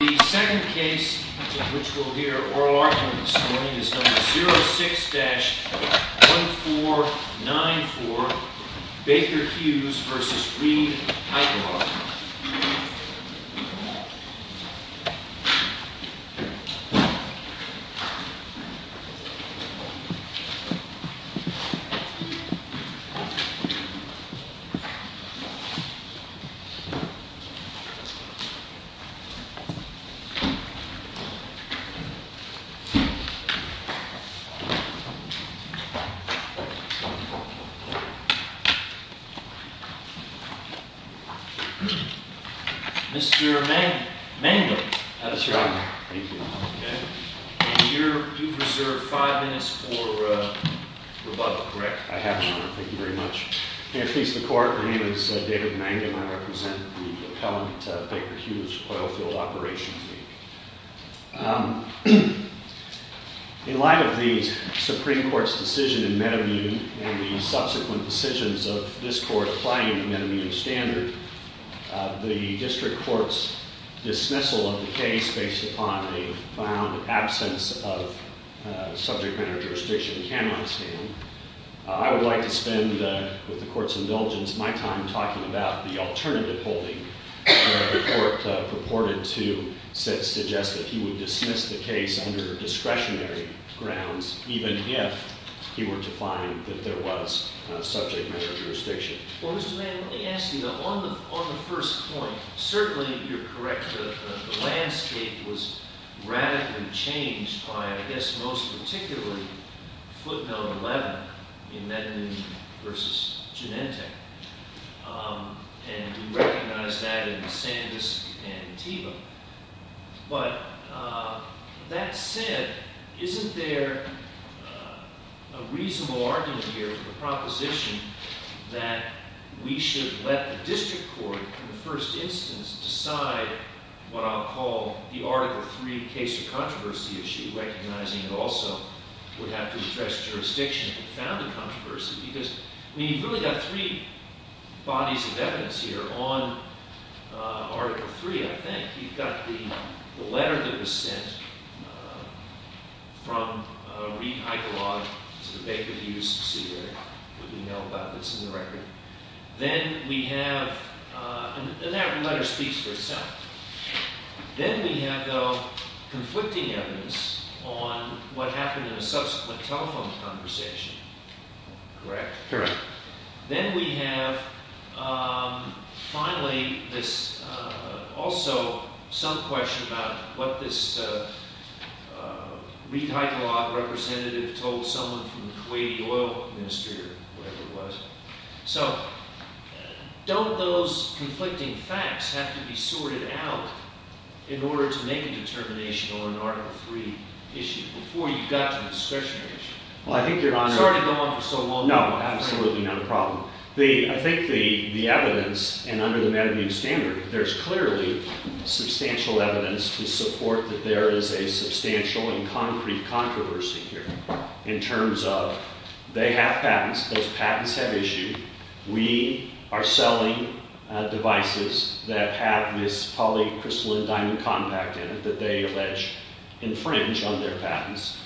The second case in which we'll hear oral arguments is number 06-1494 Baker-Hughes v. Reedhycalog. Mr. Mangum, how's it going? Thank you. And you've reserved five minutes for rebuttal, correct? I have, Your Honor. Thank you very much. May it please the Court, my name is David Mangum. I represent the appellant Baker-Hughes Oilfield Operations League. In light of the Supreme Court's decision in Metaview and the subsequent decisions of this Court applying the Metaview standard, the District Court's dismissal of the case based upon a found absence of subject matter jurisdiction can not stand. I would like to spend, with the Court's indulgence, my time talking about the alternative holding that the Court purported to suggest that he would dismiss the case under discretionary grounds, even if he were to find that there was subject matter jurisdiction. Well, Mr. Mangum, let me ask you, on the first point, certainly you're correct. The landscape was radically changed by, I guess most particularly, footnote 11 in Metaview v. Genentech. And we recognize that in Sandisk and Teva. But that said, isn't there a reasonable argument here, a proposition, that we should let the District Court, in the first instance, decide what I'll call the Article III case of controversy issue, recognizing it also would have to address jurisdiction if it found a controversy? Because, I mean, you've really got three bodies of evidence here on Article III, I think. You've got the letter that was sent from Reid Heidelog to the Baker v. Cedar, who we know about that's in the record. Then we have, and that letter speaks for itself. Then we have, though, conflicting evidence on what happened in a subsequent telephone conversation. Correct? Correct. Then we have, finally, also some question about what this Reid Heidelog representative told someone from the Kuwaiti Oil Ministry, or whatever it was. So, don't those conflicting facts have to be sorted out in order to make a determination on an Article III issue, before you've got to the discretionary issue? Well, I think Your Honor— Sorry to go on for so long. No, absolutely not a problem. I think the evidence, and under the metamute standard, there's clearly substantial evidence to support that there is a substantial and concrete controversy here, in terms of they have patents, those patents have issued, we are selling devices that have this polycrystalline diamond compact in it that they allege infringe on their patents.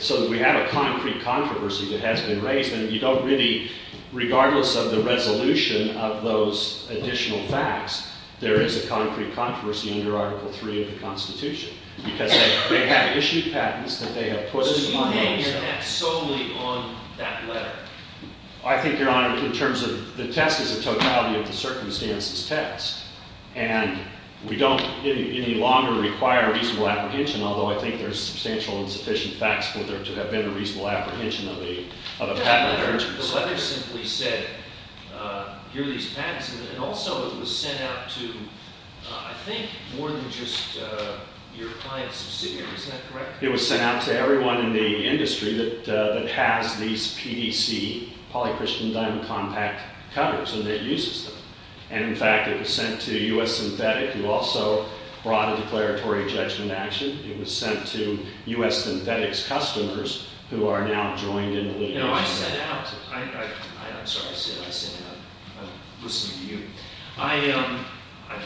So, we have a concrete controversy that has been raised, and you don't really—regardless of the resolution of those additional facts, there is a concrete controversy under Article III of the Constitution, because they have issued patents that they have put on themselves. So, you can't get that solely on that letter? I think, Your Honor, in terms of—the test is a totality of the circumstances test, and we don't any longer require reasonable apprehension, although I think there's substantial and sufficient facts to have been a reasonable apprehension of a patent infringer. The letter simply said, here are these patents, and also it was sent out to, I think, more than just your client's subsidiary, is that correct? It was sent out to everyone in the industry that has these PDC polycrystalline diamond compact covers, and that uses them. And, in fact, it was sent to U.S. Synthetic, who also brought a declaratory judgment action. It was sent to U.S. Synthetic's customers, who are now joined in the litigation. You know, I sent out—I'm sorry, I said I sent out. I'm listening to you. I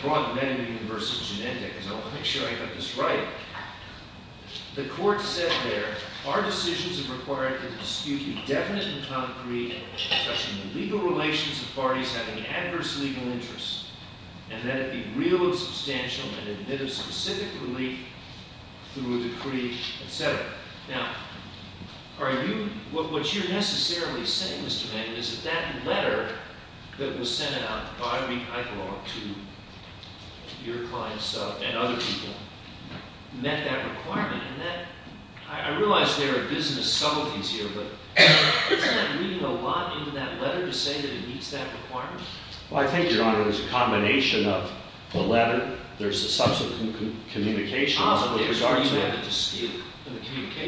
brought the men into the University of Genentech, because I want to make sure I got this right. The court said there, our decisions have required that the dispute be definite and concrete, such in the legal relations of parties having adverse legal interests, and that it be real and substantial and admit of specific relief through a decree, etc. Now, are you—what you're necessarily saying, Mr. Manning, is that that letter that was sent out by me, I belong to your clients and other people, met that requirement. And that—I realize there are business subtleties here, but isn't that reading a lot into that letter to say that it meets that requirement? Well, I think, Your Honor, there's a combination of the letter, there's a subsequent communication.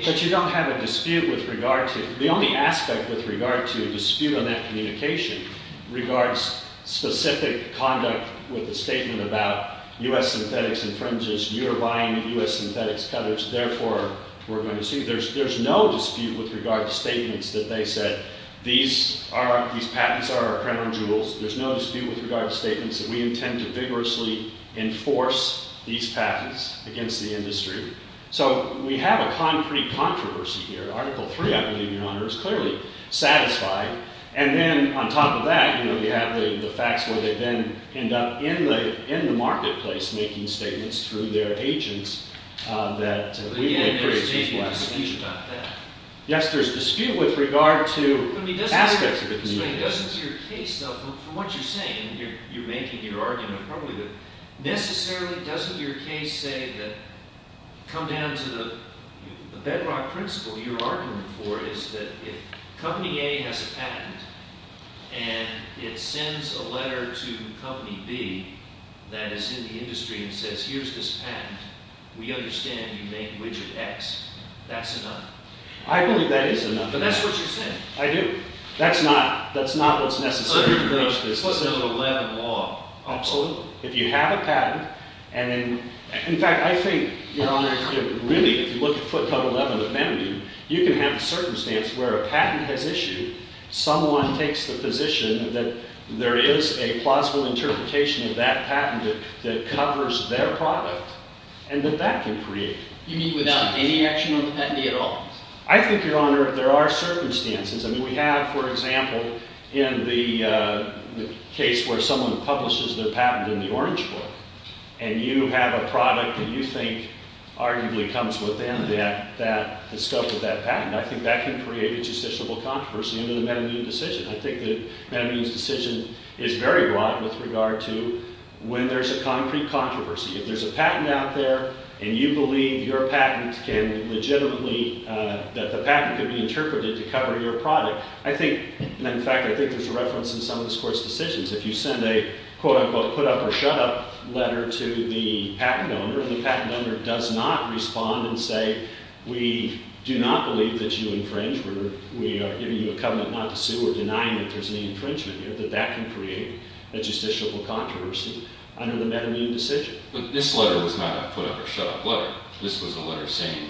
But you don't have a dispute with regard to—the only aspect with regard to a dispute on that communication regards specific conduct with a statement about U.S. Synthetic's infringes, you're buying U.S. Synthetic's cutters, therefore, we're going to sue. There's no dispute with regard to statements that they said, these are—these patents are our crown jewels. There's no dispute with regard to statements that we intend to vigorously enforce these patents against the industry. So we have a concrete controversy here. Article 3, I believe, Your Honor, is clearly satisfied. And then on top of that, you know, you have the facts where they then end up in the marketplace making statements through their agents that— But again, there's a dispute about that. Yes, there's dispute with regard to aspects of the— Necessarily, doesn't your case, though, from what you're saying—you're making your argument probably—necessarily, doesn't your case say that—come down to the bedrock principle you're arguing for is that if Company A has a patent and it sends a letter to Company B that is in the industry and says, here's this patent. We understand you made Widget X. That's enough. I believe that is enough. But that's what you're saying. I do. That's not—that's not what's necessary to bridge this. Unless there's a level of law. Absolutely. If you have a patent, and then—in fact, I think, Your Honor, that really, if you look at footnote 11 of Benedict, you can have a circumstance where a patent has issued. Someone takes the position that there is a plausible interpretation of that patent that covers their product and that that can create— You mean without any action on the patent at all? I think, Your Honor, there are circumstances. I mean, we have, for example, in the case where someone publishes their patent in the Orange Book, and you have a product that you think arguably comes within that—the scope of that patent. I think that can create a justiciable controversy under the Medellin decision. I think the Medellin decision is very broad with regard to when there's a concrete controversy. If there's a patent out there, and you believe your patent can legitimately—that the patent can be interpreted to cover your product, I think—and in fact, I think there's a reference in some of this Court's decisions. If you send a quote-unquote put-up-or-shut-up letter to the patent owner, and the patent owner does not respond and say, We do not believe that you infringe. We are giving you a covenant not to sue or denying that there's any infringement here, that that can create a justiciable controversy under the Medellin decision. But this letter was not a put-up-or-shut-up letter. This was a letter saying,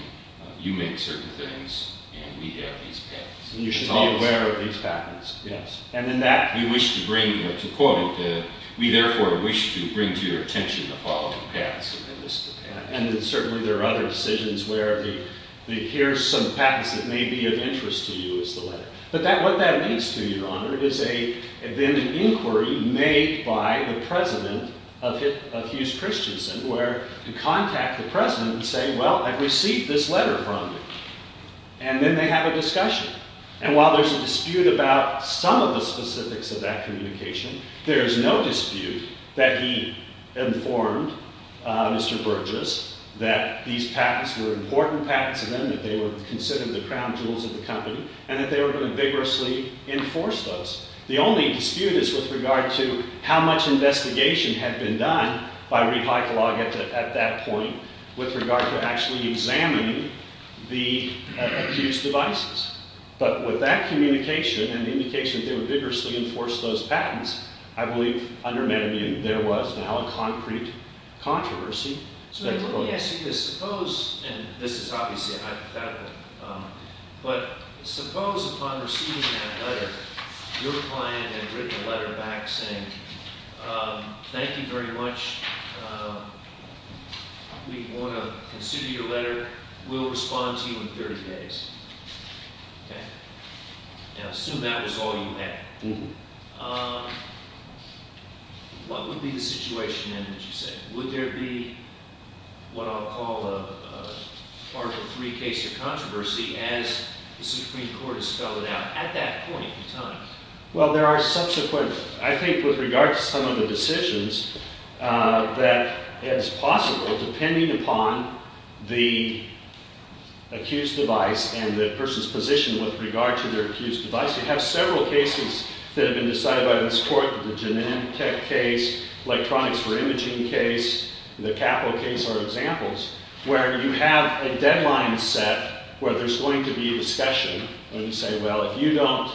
You make certain things, and we have these patents. You should be aware of these patents, yes. And then that— We wish to bring—to quote it, we therefore wish to bring to your attention the following patents. And then certainly there are other decisions where the, Here's some patents that may be of interest to you, is the letter. But what that means to you, Your Honor, is then an inquiry made by the president of Hughes Christensen, where you contact the president and say, Well, I've received this letter from you. And then they have a discussion. And while there's a dispute about some of the specifics of that communication, there is no dispute that he informed Mr. Burgess that these patents were important patents to them, that they were considered the crown jewels of the company, and that they were going to vigorously enforce those. The only dispute is with regard to how much investigation had been done by Reed Heikelaar at that point with regard to actually examining the Hughes devices. But with that communication and the indication that they would vigorously enforce those patents, I believe, under Medellin, there was now a concrete controversy. So let me ask you this. Suppose, and this is obviously hypothetical, but suppose upon receiving that letter, your client had written a letter back saying, Thank you very much. We want to consider your letter. We'll respond to you in 30 days. Okay? Now, assume that was all you had. What would be the situation then, would you say? Would there be what I'll call a Article III case of controversy as the Supreme Court has spelled it out at that point in time? Well, there are subsequent, I think, with regard to some of the decisions that is possible depending upon the accused device and the person's position with regard to their accused device. You have several cases that have been decided by this court, the Genentech case, Electronics for Imaging case, the Capital case are examples, where you have a deadline set where there's going to be a discussion and you say, well, if you don't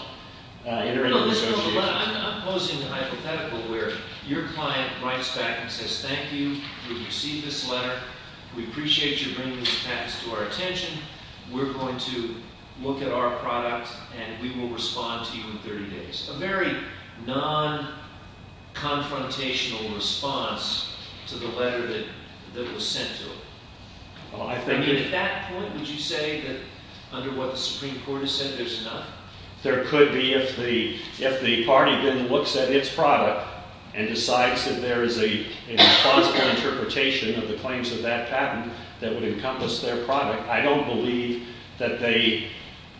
enter into a negotiation. I'm posing a hypothetical where your client writes back and says, Thank you. We received this letter. We appreciate you bringing these patents to our attention. We're going to look at our product and we will respond to you in 30 days. A very non-confrontational response to the letter that was sent to him. At that point, would you say that under what the Supreme Court has said, there's enough? There could be if the party then looks at its product and decides that there is a responsible interpretation of the claims of that patent that would encompass their product. I don't believe that the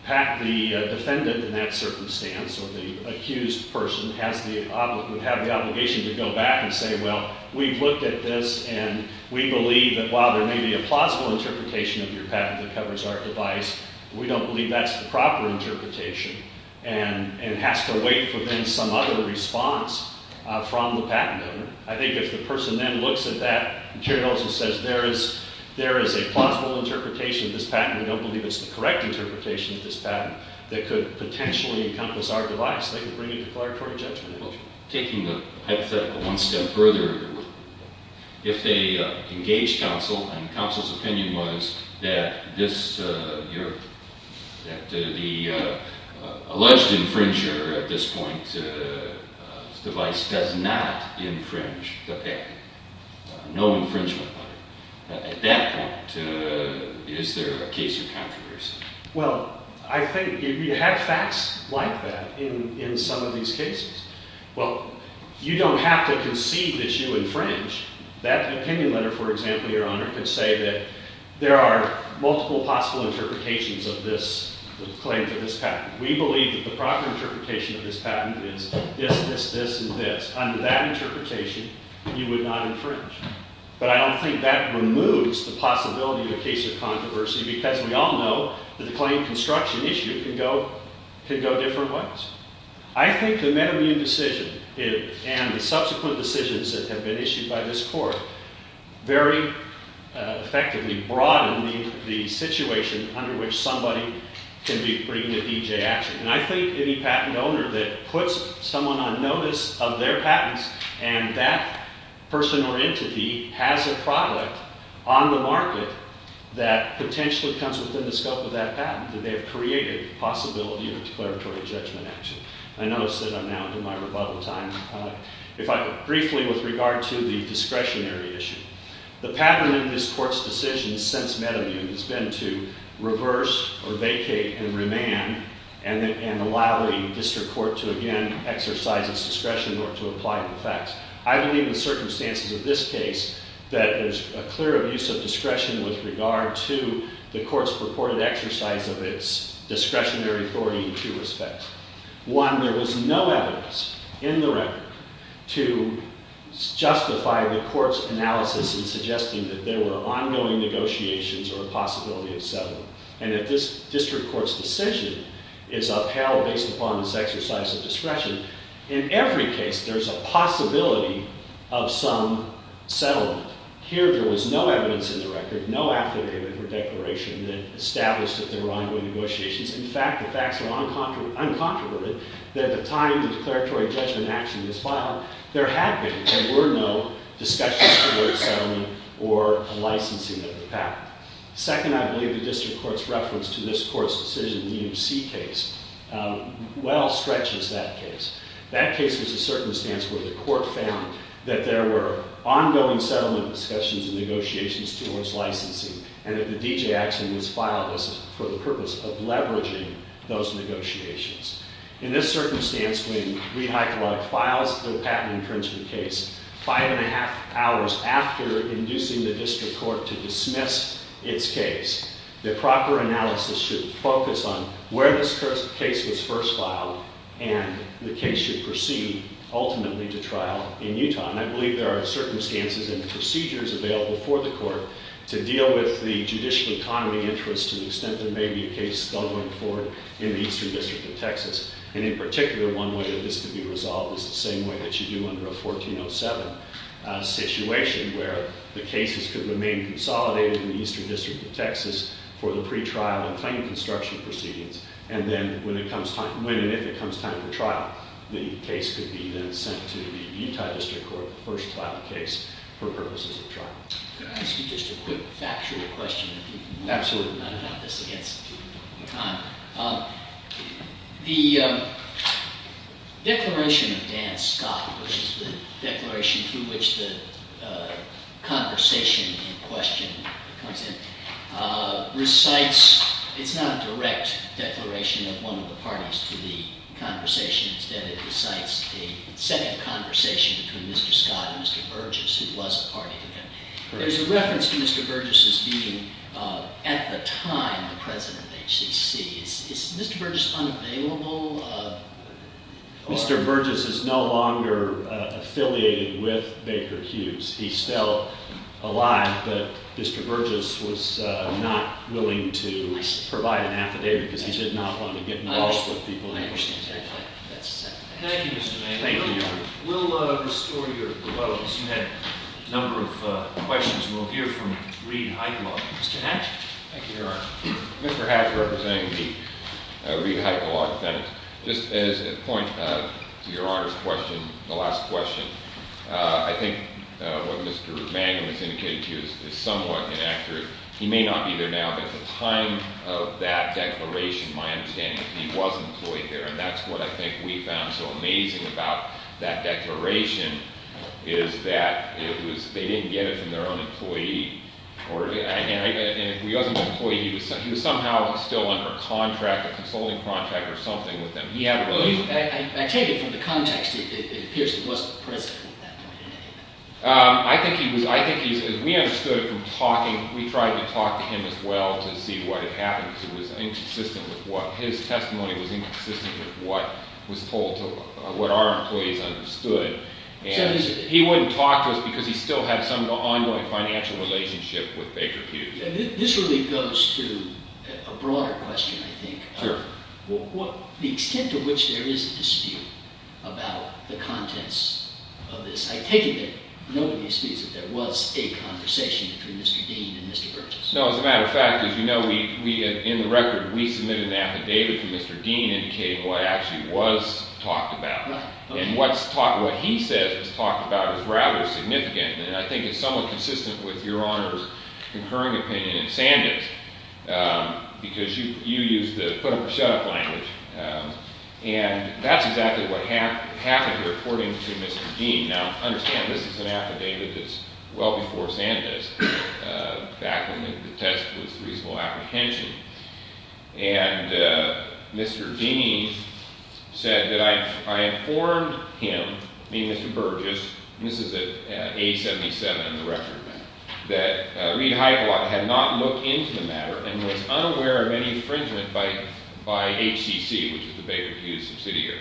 defendant in that circumstance or the accused person would have the obligation to go back and say, Well, we've looked at this and we believe that while there may be a plausible interpretation of your patent that covers our device, we don't believe that's the proper interpretation and it has to wait for then some other response from the patent owner. I think if the person then looks at that and says there is a plausible interpretation of this patent, we don't believe it's the correct interpretation of this patent that could potentially encompass our device, they could bring a declaratory judgment. Taking the hypothetical one step further, if they engage counsel and counsel's opinion was that the alleged infringer at this point's device does not infringe the patent, no infringement, at that point, is there a case of controversy? Well, I think you have facts like that in some of these cases. Well, you don't have to concede that you infringe. That opinion letter, for example, Your Honor, could say that there are multiple possible interpretations of this claim for this patent. We believe that the proper interpretation of this patent is this, this, this, and this. Under that interpretation, you would not infringe. But I don't think that removes the possibility of a case of controversy because we all know that the claim construction issue can go different ways. I think the metamune decision and the subsequent decisions that have been issued by this court very effectively broaden the situation under which somebody can be bringing a DJ action. And I think any patent owner that puts someone on notice of their patents and that person or entity has a product on the market that potentially comes within the scope of that patent, that they have created the possibility of declaratory judgment action. I notice that I'm now into my rebuttal time. Briefly, with regard to the discretionary issue, the pattern in this court's decisions since metamune has been to reverse or vacate and remand and allow the district court to again exercise its discretion or to apply the facts. I believe in the circumstances of this case that there's a clear abuse of discretion with regard to the court's purported exercise of its discretionary authority in two respects. One, there was no evidence in the record to justify the court's analysis in suggesting that there were ongoing negotiations or a possibility of settlement. And that this district court's decision is upheld based upon this exercise of discretion. In every case, there's a possibility of some settlement. Here, there was no evidence in the record, no affidavit or declaration that established that there were ongoing negotiations. In fact, the facts are uncontroverted that at the time the declaratory judgment action was filed, there had been. There were no discussions toward settlement or licensing of the patent. Second, I believe the district court's reference to this court's decision in the EMC case well stretches that case. That case was a circumstance where the court found that there were ongoing settlement discussions and negotiations towards licensing. And that the D.J. action was filed for the purpose of leveraging those negotiations. In this circumstance, when we re-hypelog files the patent infringement case five and a half hours after inducing the district court to dismiss its case, the proper analysis should focus on where this case was first filed and the case should proceed ultimately to trial in Utah. And I believe there are circumstances and procedures available for the court to deal with the judicial economy interest to the extent there may be a case still going forward in the Eastern District of Texas. And in particular, one way that this could be resolved is the same way that you do under a 1407 situation, where the cases could remain consolidated in the Eastern District of Texas for the pre-trial and claim construction proceedings. And then when and if it comes time for trial, the case could be then sent to the Utah District Court to first file the case for purposes of trial. Could I ask you just a quick factual question? Absolutely. I don't have this against Conn. The declaration of Dan Scott, which is the declaration through which the conversation in question comes in, recites. It's not a direct declaration of one of the parties to the conversation. Instead, it recites a second conversation between Mr. Scott and Mr. Burgess, who was a party to them. There's a reference to Mr. Burgess as being, at the time, the president of HCC. Is Mr. Burgess unavailable? Mr. Burgess is no longer affiliated with Baker Hughes. He's still alive, but Mr. Burgess was not willing to provide an affidavit because he did not want to get involved with people. Thank you, Mr. Mangum. Thank you. We'll restore your vote. You had a number of questions. We'll hear from Reid Heitkala. Mr. Hatch? Thank you, Your Honor. Mr. Hatch representing the Reid Heitkala defendant. Just as a point to Your Honor's question, the last question, I think what Mr. Mangum has indicated to you is somewhat inaccurate. He may not be there now, but at the time of that declaration, my understanding is he was employed there, and that's what I think we found so amazing about that declaration, is that they didn't get it from their own employee, and if he wasn't an employee, he was somehow still under a contract, a consulting contract or something with them. I take it from the context, it appears he wasn't present at that point. I think he was. We understood it from talking. We tried to talk to him as well to see what had happened because it was inconsistent with what his testimony was inconsistent with what was told to what our employees understood, and he wouldn't talk to us because he still had some ongoing financial relationship with Baker Pew. This really goes to a broader question, I think. Sure. The extent to which there is a dispute about the contents of this, I take it that nobody disputes that there was a conversation between Mr. Dean and Mr. Burgess. No, as a matter of fact, as you know, in the record, we submitted an affidavit from Mr. Dean indicating what actually was talked about, and what he says was talked about is rather significant, and I think it's somewhat consistent with Your Honor's concurring opinion and Sanders' because you used the put-him-for-shut-up language, and that's exactly what happened here, according to Mr. Dean. Now, understand this is an affidavit that's well before Sanders' back when the test was reasonable apprehension, and Mr. Dean said that I informed him, me and Mr. Burgess, and this is at 877 in the record, that Reid Heiblot had not looked into the matter and was unaware of any infringement by HCC, which is the Baker Pew subsidiary.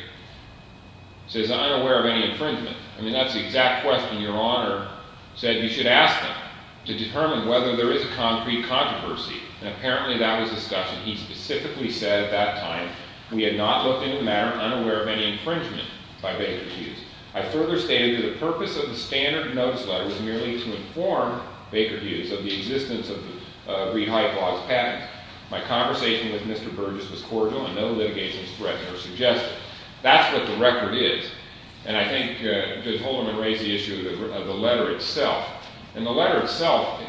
He says, unaware of any infringement. I mean, that's the exact question Your Honor said you should ask them to determine whether there is a concrete controversy, and apparently that was the discussion. He specifically said at that time, we had not looked into the matter, unaware of any infringement by Baker Pew. I further stated that the purpose of the standard notice letter was merely to inform Baker Pew of the existence of Reid Heiblot's patents. My conversation with Mr. Burgess was cordial and no litigation threat was suggested. That's what the record is, and I think Judge Holderman raised the issue of the letter itself, and the letter itself,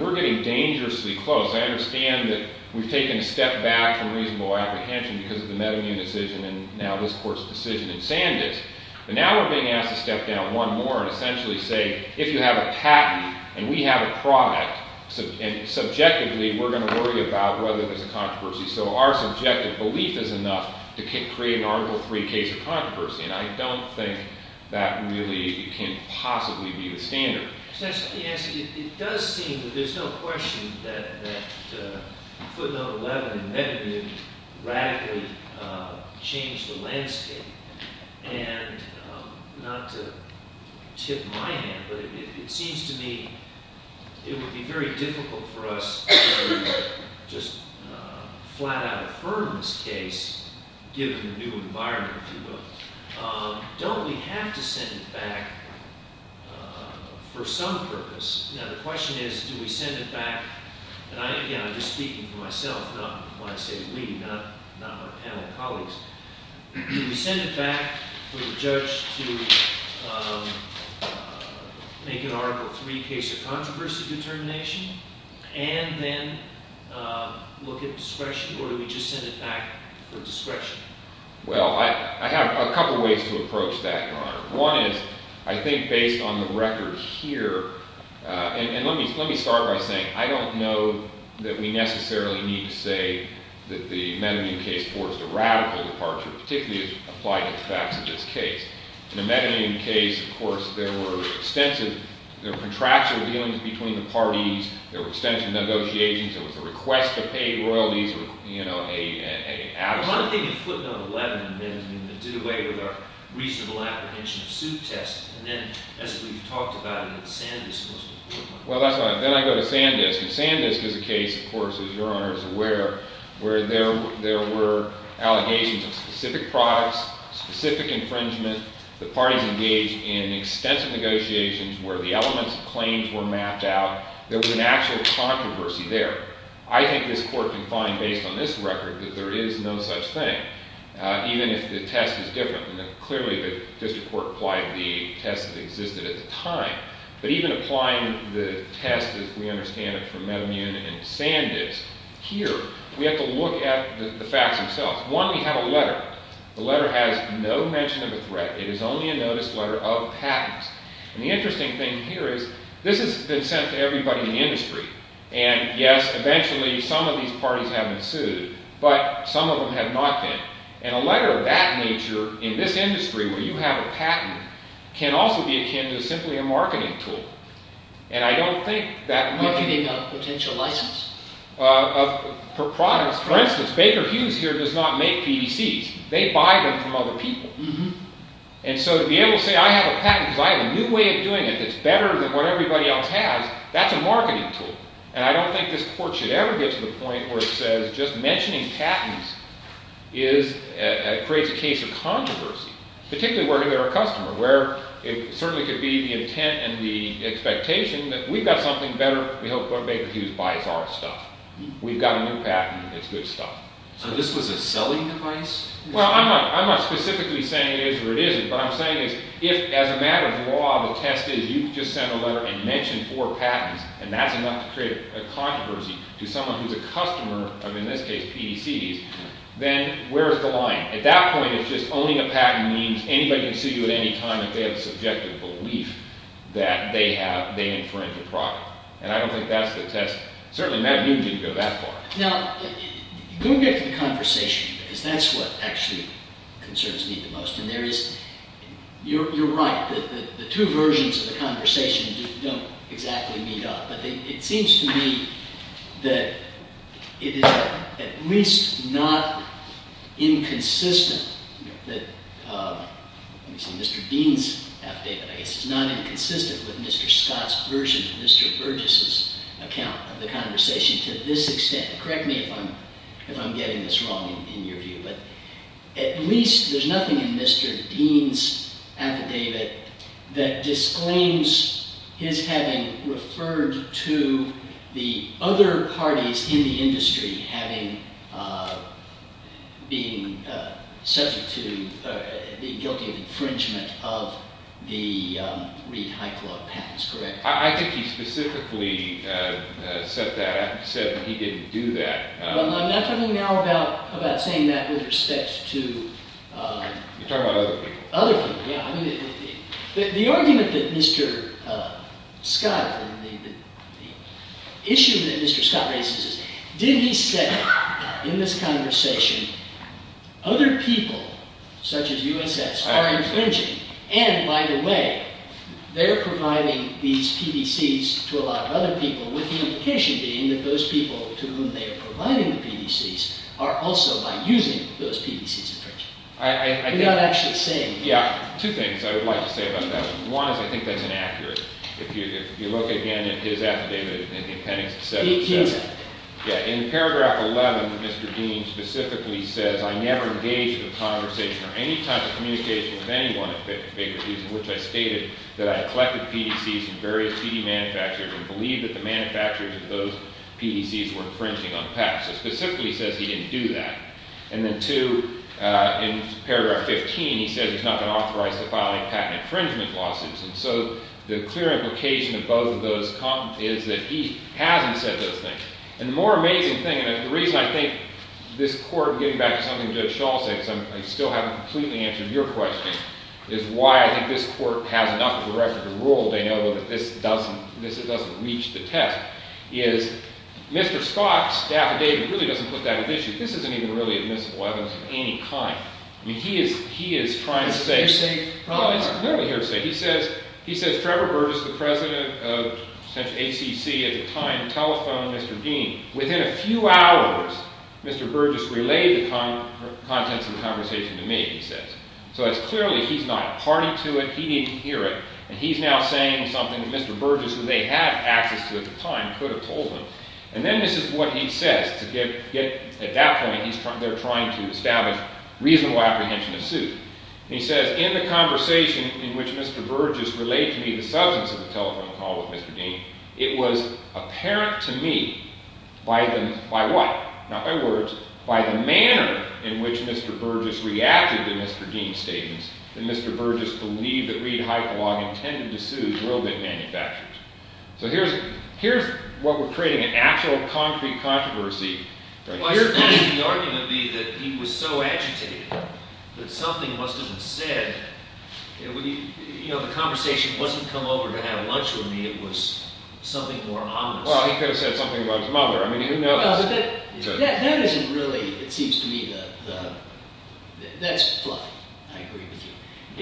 we're getting dangerously close. I understand that we've taken a step back from reasonable apprehension because of the Meadowmune decision and now this Court's decision in Sanders, but now we're being asked to step down one more and essentially say, if you have a patent and we have a product, subjectively we're going to worry about whether there's a controversy. So our subjective belief is enough to create an Article III case of controversy, and I don't think that really can possibly be the standard. Let me ask you, it does seem that there's no question that footnote 11 in Meadowmune radically changed the landscape, and not to tip my hat, but it seems to me it would be very difficult for us to just flat out affirm this case, given the new environment, if you will. Don't we have to send it back for some purpose? Now the question is, do we send it back, and again I'm just speaking for myself, not when I say we, not our panel of colleagues. Do we send it back for the judge to make an Article III case of controversy determination, and then look at discretion, or do we just send it back for discretion? Well, I have a couple ways to approach that, Your Honor. One is, I think based on the record here, and let me start by saying, I don't know that we necessarily need to say that the Meadowmune case forced a radical departure, particularly as applied to the facts of this case. In the Meadowmune case, of course, there were extensive, there were contractual dealings between the parties, there were extensive negotiations, there was a request to pay royalties with, you know, a... I'm not thinking of footnote 11 in the Meadowmune that did away with our reasonable apprehension of suit test, and then, as we've talked about in the Sandisk most important one. Well, that's fine. Then I go to Sandisk, and Sandisk is a case, of course, as Your Honor is aware, where there were allegations of specific products, specific infringement, the parties engaged in extensive negotiations, where the elements of claims were mapped out. There was an actual controversy there. I think this Court can find, based on this record, that there is no such thing, even if the test is different. Clearly, the district court applied the test that existed at the time, but even applying the test, as we understand it, from Meadowmune and Sandisk, here, we have to look at the facts themselves. One, we have a letter. The letter has no mention of a threat. It is only a notice letter of patents, and the interesting thing here is this has been sent to everybody in the industry, and yes, eventually, some of these parties have been sued, but some of them have not been, and a letter of that nature in this industry, where you have a patent, can also be akin to simply a marketing tool, and I don't think that... Would you think of a potential license? For instance, Baker Hughes here does not make PDCs. They buy them from other people, and so to be able to say, I have a patent because I have a new way of doing it that's better than what everybody else has, that's a marketing tool, and I don't think this Court should ever get to the point where it says just mentioning patents creates a case of controversy, particularly working with our customer, where it certainly could be the intent and the expectation that we've got something better, we hope Baker Hughes buys our stuff. We've got a new patent, it's good stuff. So this was a selling device? Well, I'm not specifically saying it is or it isn't, but I'm saying is if as a matter of law the test is you just send a letter and mention four patents, and that's enough to create a controversy to someone who's a customer of, in this case, PDCs, then where's the line? At that point, it's just owning a patent means anybody can sue you at any time if they have a subjective belief that they infringe a product, and I don't think that's the test. Certainly, Matt, you didn't go that far. Now, go get to the conversation, because that's what actually concerns me the most, and there is, you're right, the two versions of the conversation just don't exactly meet up, but it seems to me that it is at least not inconsistent that, let me see, Mr. Dean's affidavit, I guess it's not inconsistent with Mr. Scott's version of Mr. Burgess' account of the conversation to this extent. Correct me if I'm getting this wrong in your view, but at least there's nothing in Mr. Dean's affidavit that disclaims his having referred to the other parties in the industry having been subject to the guilty infringement of the Reed High Club patents, correct? I think he specifically said that. He said he didn't do that. Well, I'm not talking now about saying that with respect to… You're talking about other people. Other people, yeah. The argument that Mr. Scott, the issue that Mr. Scott raises is, did he say in this conversation, other people, such as USS, are infringing, and by the way, they're providing these PBCs to a lot of other people, with the implication being that those people to whom they are providing the PBCs are also by using those PBCs infringing. You're not actually saying that. Yeah, two things I would like to say about that. One is I think that's inaccurate. If you look again at his affidavit in the appendix to 7.7, in paragraph 11, Mr. Dean specifically says, I never engaged in a conversation or any type of communication with anyone in favor of these, in which I stated that I had collected PBCs from various CD manufacturers and believed that the manufacturers of those PBCs were infringing on patents. Specifically, he says he didn't do that. And then two, in paragraph 15, he says he's not been authorized to file any patent infringement lawsuits. And so the clear implication of both of those is that he hasn't said those things. And the more amazing thing, and the reason I think this Court, getting back to something Judge Schall said, because I still haven't completely answered your question, is why I think this Court has enough of a record to rule, they know that this doesn't reach the test, is Mr. Scott's affidavit really doesn't put that at issue. This isn't even really admissible evidence of any kind. I mean, he is trying to say— It's a hearsay problem. No, it's clearly hearsay. He says Trevor Burgess, the president of ACC at the time, telephoned Mr. Dean. Within a few hours, Mr. Burgess relayed the contents of the conversation to me, he says. So it's clearly he's not party to it. He didn't hear it. And he's now saying something that Mr. Burgess, who they had access to at the time, could have told him. And then this is what he says to get—at that point, they're trying to establish reasonable apprehension of suit. And he says, in the conversation in which Mr. Burgess relayed to me the substance of the telephone call with Mr. Dean, it was apparent to me by the—by what? Not by words. By the manner in which Mr. Burgess reacted to Mr. Dean's statements, that Mr. Burgess believed that Reid-Hypolog intended to sue will get manufactured. So here's what we're creating, an actual concrete controversy. Well, here, the argument would be that he was so agitated that something must have been said. You know, the conversation wasn't come over to have lunch with me. It was something more ominous. Well, he could have said something about his mother. I mean, who knows? So that isn't really, it seems to me, the—that's fluffy. I agree with you.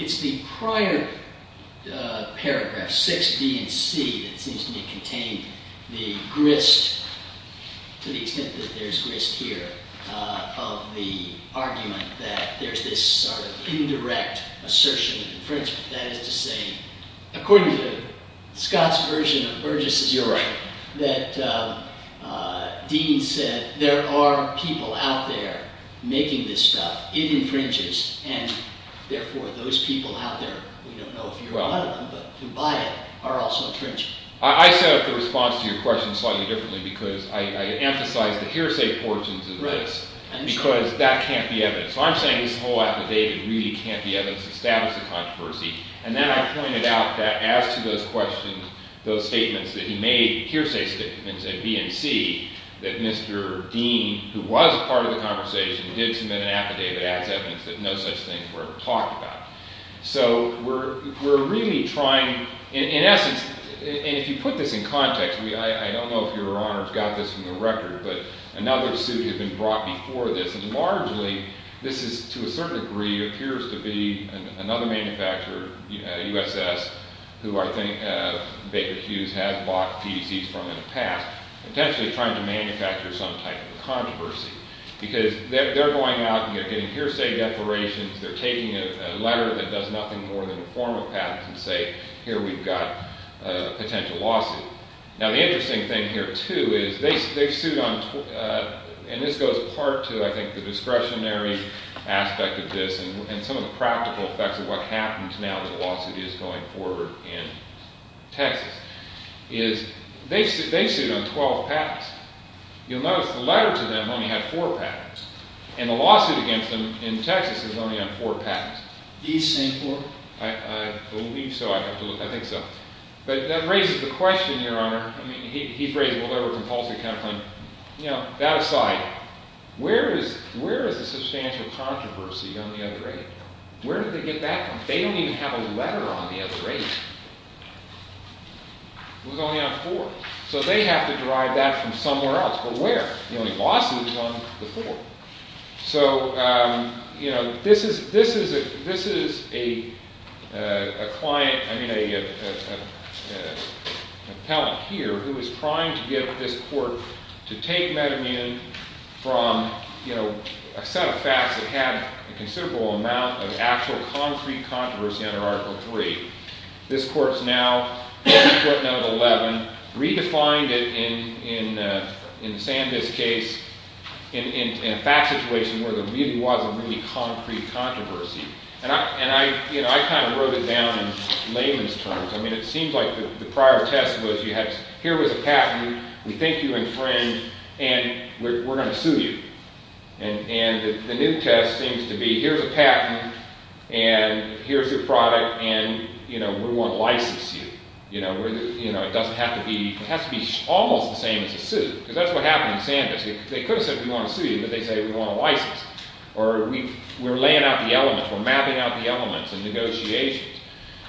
It's the prior paragraph, 6b and c, that seems to me contain the grist, to the extent that there's grist here, of the argument that there's this sort of indirect assertion of infringement. That is to say, according to Scott's version of Burgess' theory, that Dean said, there are people out there making this stuff. It infringes. And therefore, those people out there, we don't know if you're one of them, but who buy it, are also infringing. I set up the response to your question slightly differently because I emphasized the hearsay portions of this. Because that can't be evidence. So I'm saying this whole affidavit really can't be evidence to establish the controversy. And then I pointed out that as to those questions, those statements that he made, hearsay statements at B and C, that Mr. Dean, who was part of the conversation, did submit an affidavit as evidence that no such things were ever talked about. So we're really trying, in essence, and if you put this in context, I don't know if Your Honor's got this from the record, but another suit had been brought before this. And largely, this is, to a certain degree, appears to be another manufacturer, USS, who I think Baker Hughes has bought PDCs from in the past, potentially trying to manufacture some type of controversy. Because they're going out and they're getting hearsay declarations. They're taking a letter that does nothing more than inform a patent and say, here we've got a potential lawsuit. Now the interesting thing here, too, is they've sued on, and this goes part to, I think, the discretionary aspect of this and some of the practical effects of what happens now that the lawsuit is going forward in Texas, is they've sued on 12 patents. You'll notice the letter to them only had four patents. And the lawsuit against them in Texas is only on four patents. These same four? I believe so. I think so. But that raises the question, Your Honor. I mean, he's raised a little over-compulsive kind of claim. That aside, where is the substantial controversy on the other eight? Where did they get that from? They don't even have a letter on the other eight. It was only on four. So they have to derive that from somewhere else. But where? The only lawsuit is on the four. So, you know, this is a client, I mean an appellant here, who is trying to get this court to take metamune from, you know, a set of facts that have a considerable amount of actual concrete controversy under Article III. This court's now putting out 11, redefined it in Sandus' case in a fact situation where there really was a really concrete controversy. And, you know, I kind of wrote it down in layman's terms. I mean, it seems like the prior test was here was a patent, we thank you and friend, and we're going to sue you. And the new test seems to be here's a patent, and here's your product, and, you know, we want to license you. You know, it doesn't have to be, it has to be almost the same as a suit. Because that's what happened in Sandus. They could have said we want to sue you, but they say we want to license you. Or we're laying out the elements, we're mapping out the elements in negotiations.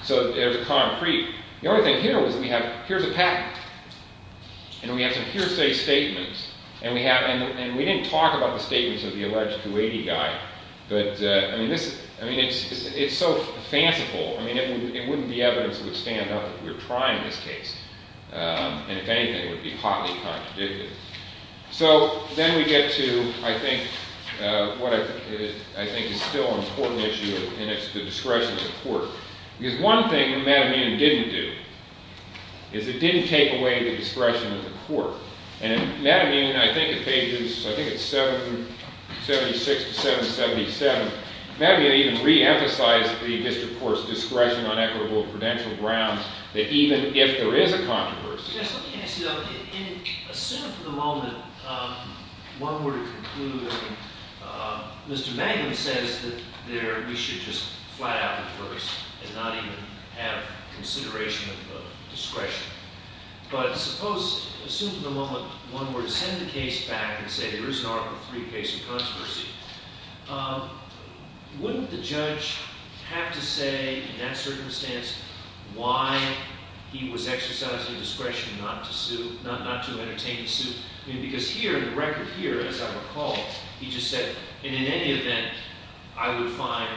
So there's a concrete. The only thing here was we have here's a patent. And we have some hearsay statements. And we didn't talk about the statements of the alleged Kuwaiti guy. But, I mean, it's so fanciful. I mean, it wouldn't be evidence that would stand up if we were trying this case. And, if anything, it would be hotly contradicted. So then we get to, I think, what I think is still an important issue, and it's the discretion of the court. Because one thing that Matt Amin didn't do is it didn't take away the discretion of the court. And Matt Amin, I think at pages, I think it's 776 to 777, Matt Amin even re-emphasized the district court's discretion on equitable and prudential grounds that even if there is a controversy. Yes, let me ask you that. And assume for the moment one were to conclude, I mean, Mr. Magnin says that we should just flat out defer this and not even have consideration of the discretion. But suppose, assume for the moment one were to send the case back and say there is an Article III case of controversy. Wouldn't the judge have to say in that circumstance why he was exercising discretion not to entertain the suit? I mean, because here, the record here, as I recall, he just said, in any event, I would find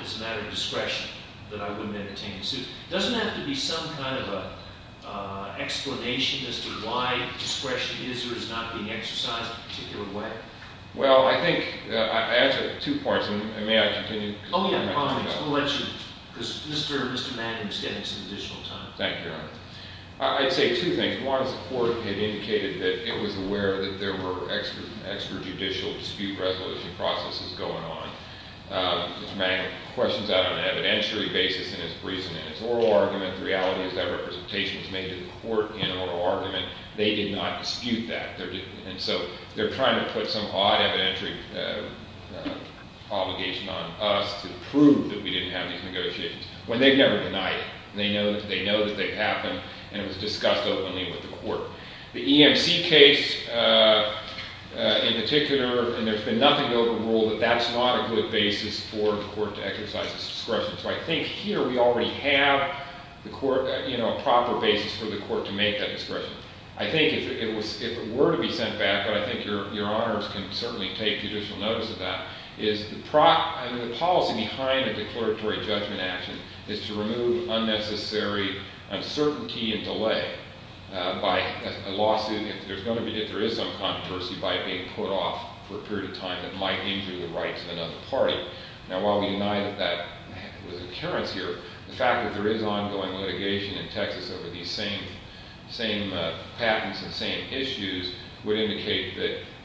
it's a matter of discretion that I wouldn't entertain the suit. It doesn't have to be some kind of an explanation as to why discretion is or is not being exercised in a particular way. Well, I think I answered two points, and may I continue? Oh, yeah, I promise. I'm going to let you, because Mr. Magnin is getting some additional time. Thank you, Your Honor. I'd say two things. One is the court had indicated that it was aware that there were extrajudicial dispute resolution processes going on. Mr. Magnin questions that on an evidentiary basis in his reasoning. It's an oral argument. The reality is that representation was made to the court in an oral argument. They did not dispute that. And so they're trying to put some odd evidentiary obligation on us to prove that we didn't have these negotiations, when they've never denied it. They know that they've happened, and it was discussed openly with the court. The EMC case in particular, and there's been nothing to overrule, that that's not a good basis for the court to exercise its discretion. So I think here we already have a proper basis for the court to make that discretion. I think if it were to be sent back, but I think Your Honors can certainly take judicial notice of that, is the policy behind a declaratory judgment action is to remove unnecessary uncertainty and delay by a lawsuit if there is some controversy by it being put off for a period of time that might injure the rights of another party. Now while we deny that that was an occurrence here, the fact that there is ongoing litigation in Texas over these same patents and same issues would indicate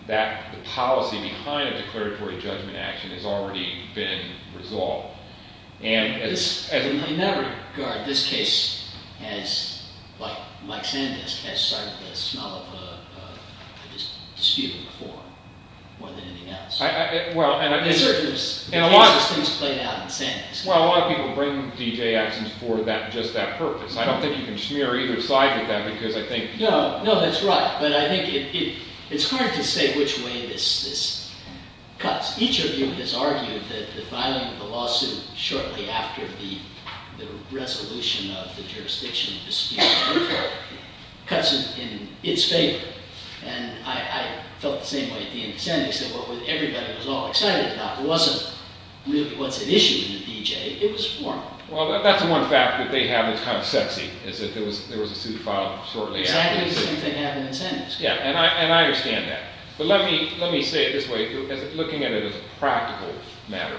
that the policy behind a declaratory judgment action has already been resolved. In that regard, this case has, like Sandisk, has started the smell of dispute before, more than anything else. In a lot of cases things played out in Sandisk. Well, a lot of people bring D.J. actions for just that purpose. I don't think you can smear either side with that because I think... No, that's right, but I think it's hard to say which way this cuts. Each of you has argued that the filing of the lawsuit shortly after the resolution of the jurisdiction dispute cuts in its favor, and I felt the same way at the end of Sandisk that what everybody was all excited about wasn't really what's at issue in the D.J., it was formal. Well, that's one fact that they have that's kind of sexy, is that there was a suit filed shortly after the suit. Exactly the same thing happened in Sandisk. Yeah, and I understand that. But let me say it this way, looking at it as a practical matter.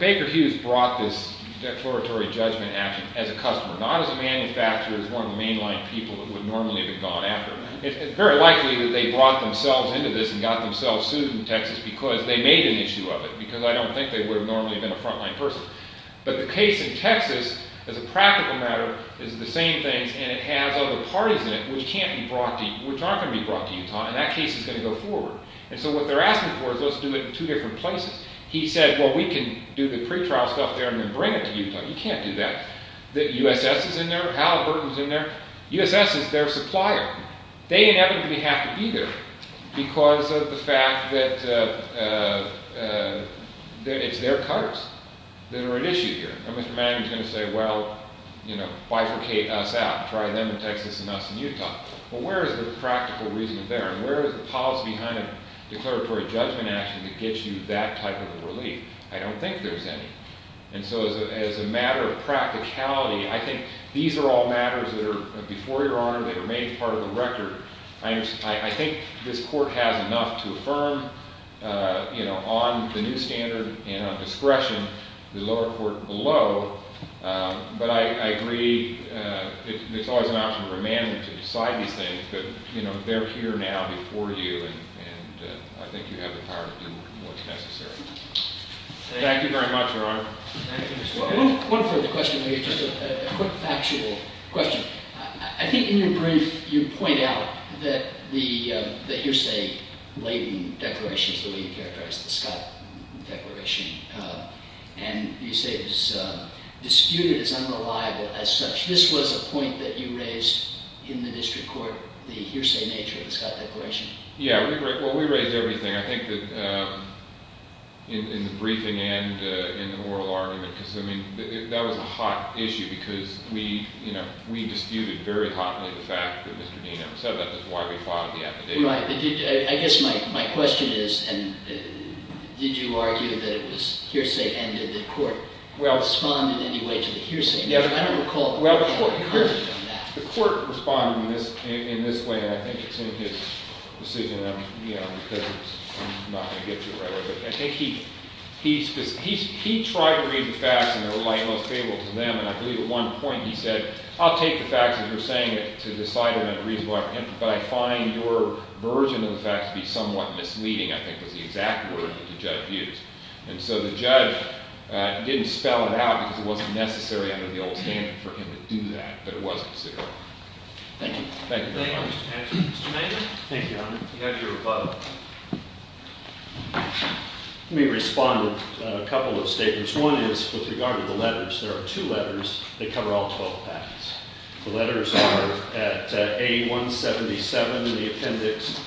Baker Hughes brought this declaratory judgment action as a customer, not as a manufacturer, as one of the mainline people who would normally have gone after him. It's very likely that they brought themselves into this and got themselves sued in Texas because they made an issue of it, because I don't think they would have normally been a frontline person. But the case in Texas, as a practical matter, is the same things, and it has other parties in it which can't be brought to Utah, which aren't going to be brought to Utah, and that case is going to go forward. And so what they're asking for is let's do it in two different places. He said, well, we can do the pretrial stuff there and then bring it to Utah. You can't do that. The USS is in there. Hal Burton is in there. USS is their supplier. They inevitably have to be there because of the fact that it's their cuts that are at issue here. And Mr. Manning is going to say, well, bifurcate us out. Try them in Texas and us in Utah. Well, where is the practical reason there? And where is the policy behind a declaratory judgment action that gets you that type of a relief? I don't think there's any. And so as a matter of practicality, I think these are all matters that are before Your Honor. They remain part of the record. I think this court has enough to affirm on the new standard and on discretion the lower court below. But I agree it's always an option for Manning to decide these things. But they're here now before you, and I think you have the power to do what's necessary. Thank you very much, Your Honor. Thank you as well. One further question, maybe just a quick factual question. I think in your brief you point out that the hearsay-laden declaration is the way you characterized the Scott declaration. And you say it was disputed, it's unreliable as such. This was a point that you raised in the district court, the hearsay nature of the Scott declaration. Yeah, well, we raised everything. I think that in the briefing and in the oral argument, because, I mean, that was a hot issue because we disputed very hotly the fact that Mr. Dean ever said that was why we filed the affidavit. Right. I guess my question is, did you argue that it was hearsay and did the court respond in any way to the hearsay? I don't recall a court comment on that. The court responded in this way, and I think it's in his decision, because I'm not going to get to it right away. But I think he tried to read the facts in the light most favorable to them. And I believe at one point he said, I'll take the facts that you're saying to decide whether they're reasonable or not. But I find your version of the facts to be somewhat misleading, I think was the exact word that the judge used. And so the judge didn't spell it out because it wasn't necessary under the old standard for him to do that. But it was considerable. Thank you. Thank you very much. Any other questions? Mr. Maynard? Thank you, Your Honor. You have your rebuttal. Let me respond with a couple of statements. One is with regard to the letters. There are two letters that cover all 12 patents. The letters are at A177, the appendix,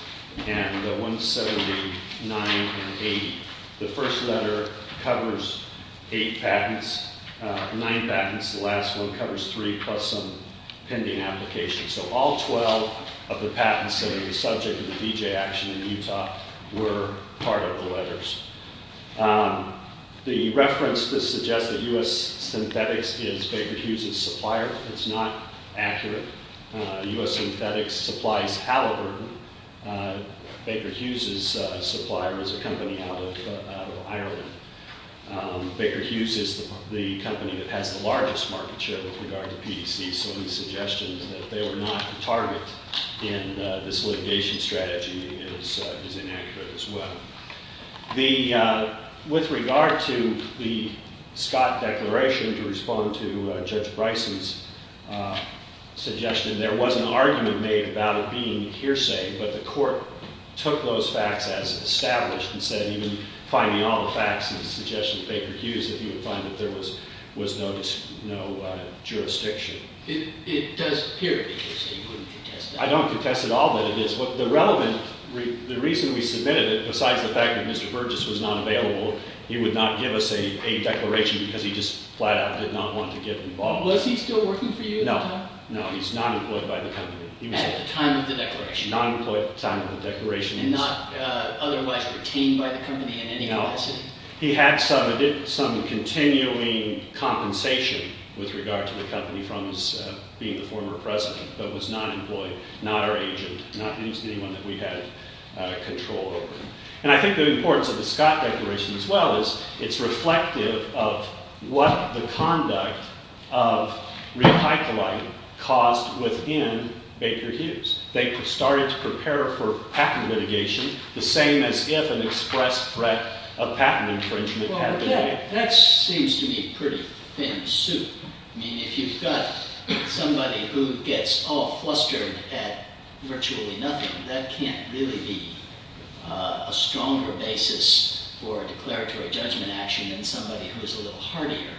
and 179 and 80. The first letter covers eight patents, nine patents. The last one covers three plus some pending applications. So all 12 of the patents that are the subject of the D.J. action in Utah were part of the letters. The reference that suggests that U.S. Synthetics is Baker Hughes's supplier is not accurate. U.S. Synthetics supplies Halliburton. Baker Hughes's supplier is a company out of Ireland. Baker Hughes is the company that has the largest market share with regard to PEC, so the suggestion that they were not the target in this litigation strategy is inaccurate as well. With regard to the Scott Declaration, to respond to Judge Bryson's suggestion, there was an argument made about it being hearsay, but the court took those facts as established and said even finding all the facts in the suggestion of Baker Hughes, that he would find that there was no jurisdiction. It does appear to be hearsay. You wouldn't contest that? I don't contest at all that it is. The reason we submitted it, besides the fact that Mr. Burgess was not available, he would not give us a declaration because he just flat out did not want to get involved. Was he still working for you at the time? No, he's not employed by the company. At the time of the declaration? Non-employed at the time of the declaration. And not otherwise retained by the company in any capacity? No. He had some continuing compensation with regard to the company from his being the former president, but was not employed, not our agent, not anyone that we had control over. And I think the importance of the Scott Declaration as well is it's reflective of what the conduct of real high colloid caused within Baker Hughes. They started to prepare for patent litigation, the same as if an express threat of patent infringement had been made. Well, that seems to me pretty thin soup. I mean, if you've got somebody who gets all flustered at virtually nothing, that can't really be a stronger basis for a declaratory judgment action than somebody who is a little hardier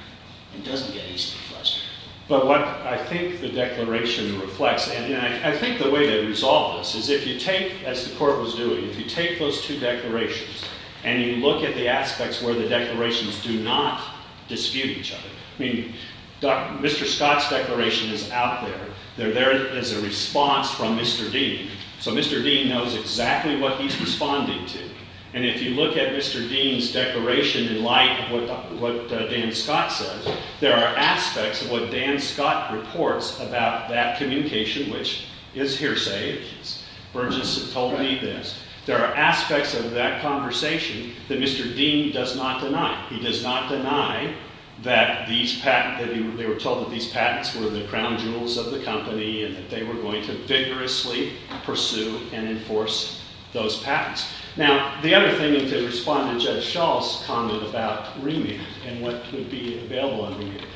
and doesn't get easily flustered. But what I think the declaration reflects, and I think the way to resolve this, is if you take, as the court was doing, if you take those two declarations and you look at the aspects where the declarations do not dispute each other. I mean, Mr. Scott's declaration is out there. They're there as a response from Mr. Dean. So Mr. Dean knows exactly what he's responding to. And if you look at Mr. Dean's declaration in light of what Dan Scott says, there are aspects of what Dan Scott reports about that communication, which is hearsay. Burgess told me this. There are aspects of that conversation that Mr. Dean does not deny. He does not deny that these patents, that they were told that these patents were the crown jewels of the company and that they were going to vigorously pursue and enforce those patents. Now, the other thing, and to respond to Judge Schall's comment about remand and what would be available on remand,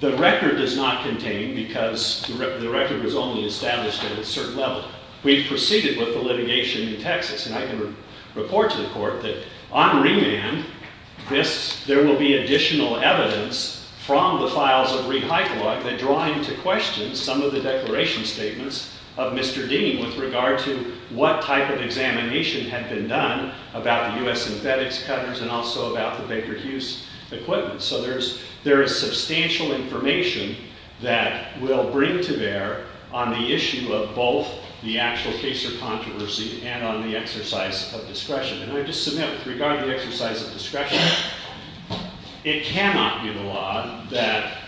the record does not contain, because the record was only established at a certain level. We've proceeded with the litigation in Texas, and I can report to the court that on remand, there will be additional evidence from the files of re-hypelog that draw into question some of the declaration statements of Mr. Dean with regard to what type of examination had been done about the U.S. synthetics cutters and also about the Baker Hughes equipment. So there is substantial information that we'll bring to bear on the issue of both the actual case of controversy and on the exercise of discretion. And I just submit with regard to the exercise of discretion, it cannot be the law that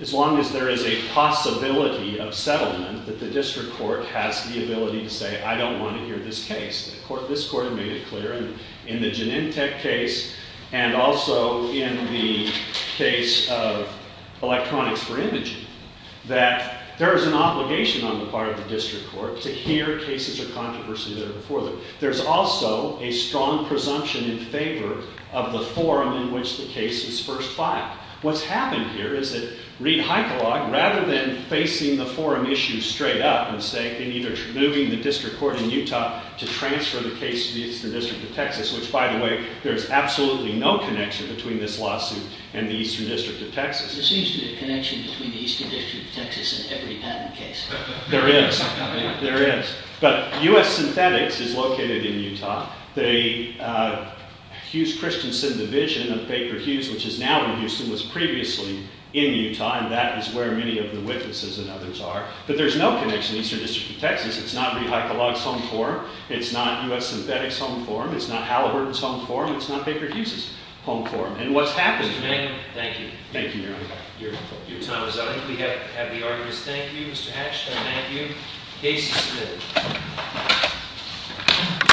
as long as there is a possibility of settlement that the district court has the ability to say, I don't want to hear this case. This court made it clear in the Genentech case and also in the case of electronics for imaging that there is an obligation on the part of the district court to hear cases of controversy that are before them. There's also a strong presumption in favor of the forum in which the case is first filed. What's happened here is that re-hypelog, rather than facing the forum issue straight up and saying they need to remove the district court in Utah to transfer the case to the Eastern District of Texas, which by the way, there's absolutely no connection between this lawsuit and the Eastern District of Texas. There seems to be a connection between the Eastern District of Texas and every patent case. There is. There is. But U.S. synthetics is located in Utah. The Hughes-Christensen division of Baker Hughes, which is now in Houston, was previously in Utah, and that is where many of the witnesses and others are. But there's no connection in the Eastern District of Texas. It's not re-hypelog's home forum. It's not U.S. synthetics' home forum. It's not Halliburton's home forum. It's not Baker Hughes' home forum. And what's happened— Thank you. Thank you, Your Honor. Your time is up. I think we have the arguments. Thank you, Mr. Hatch. Thank you. Case is submitted.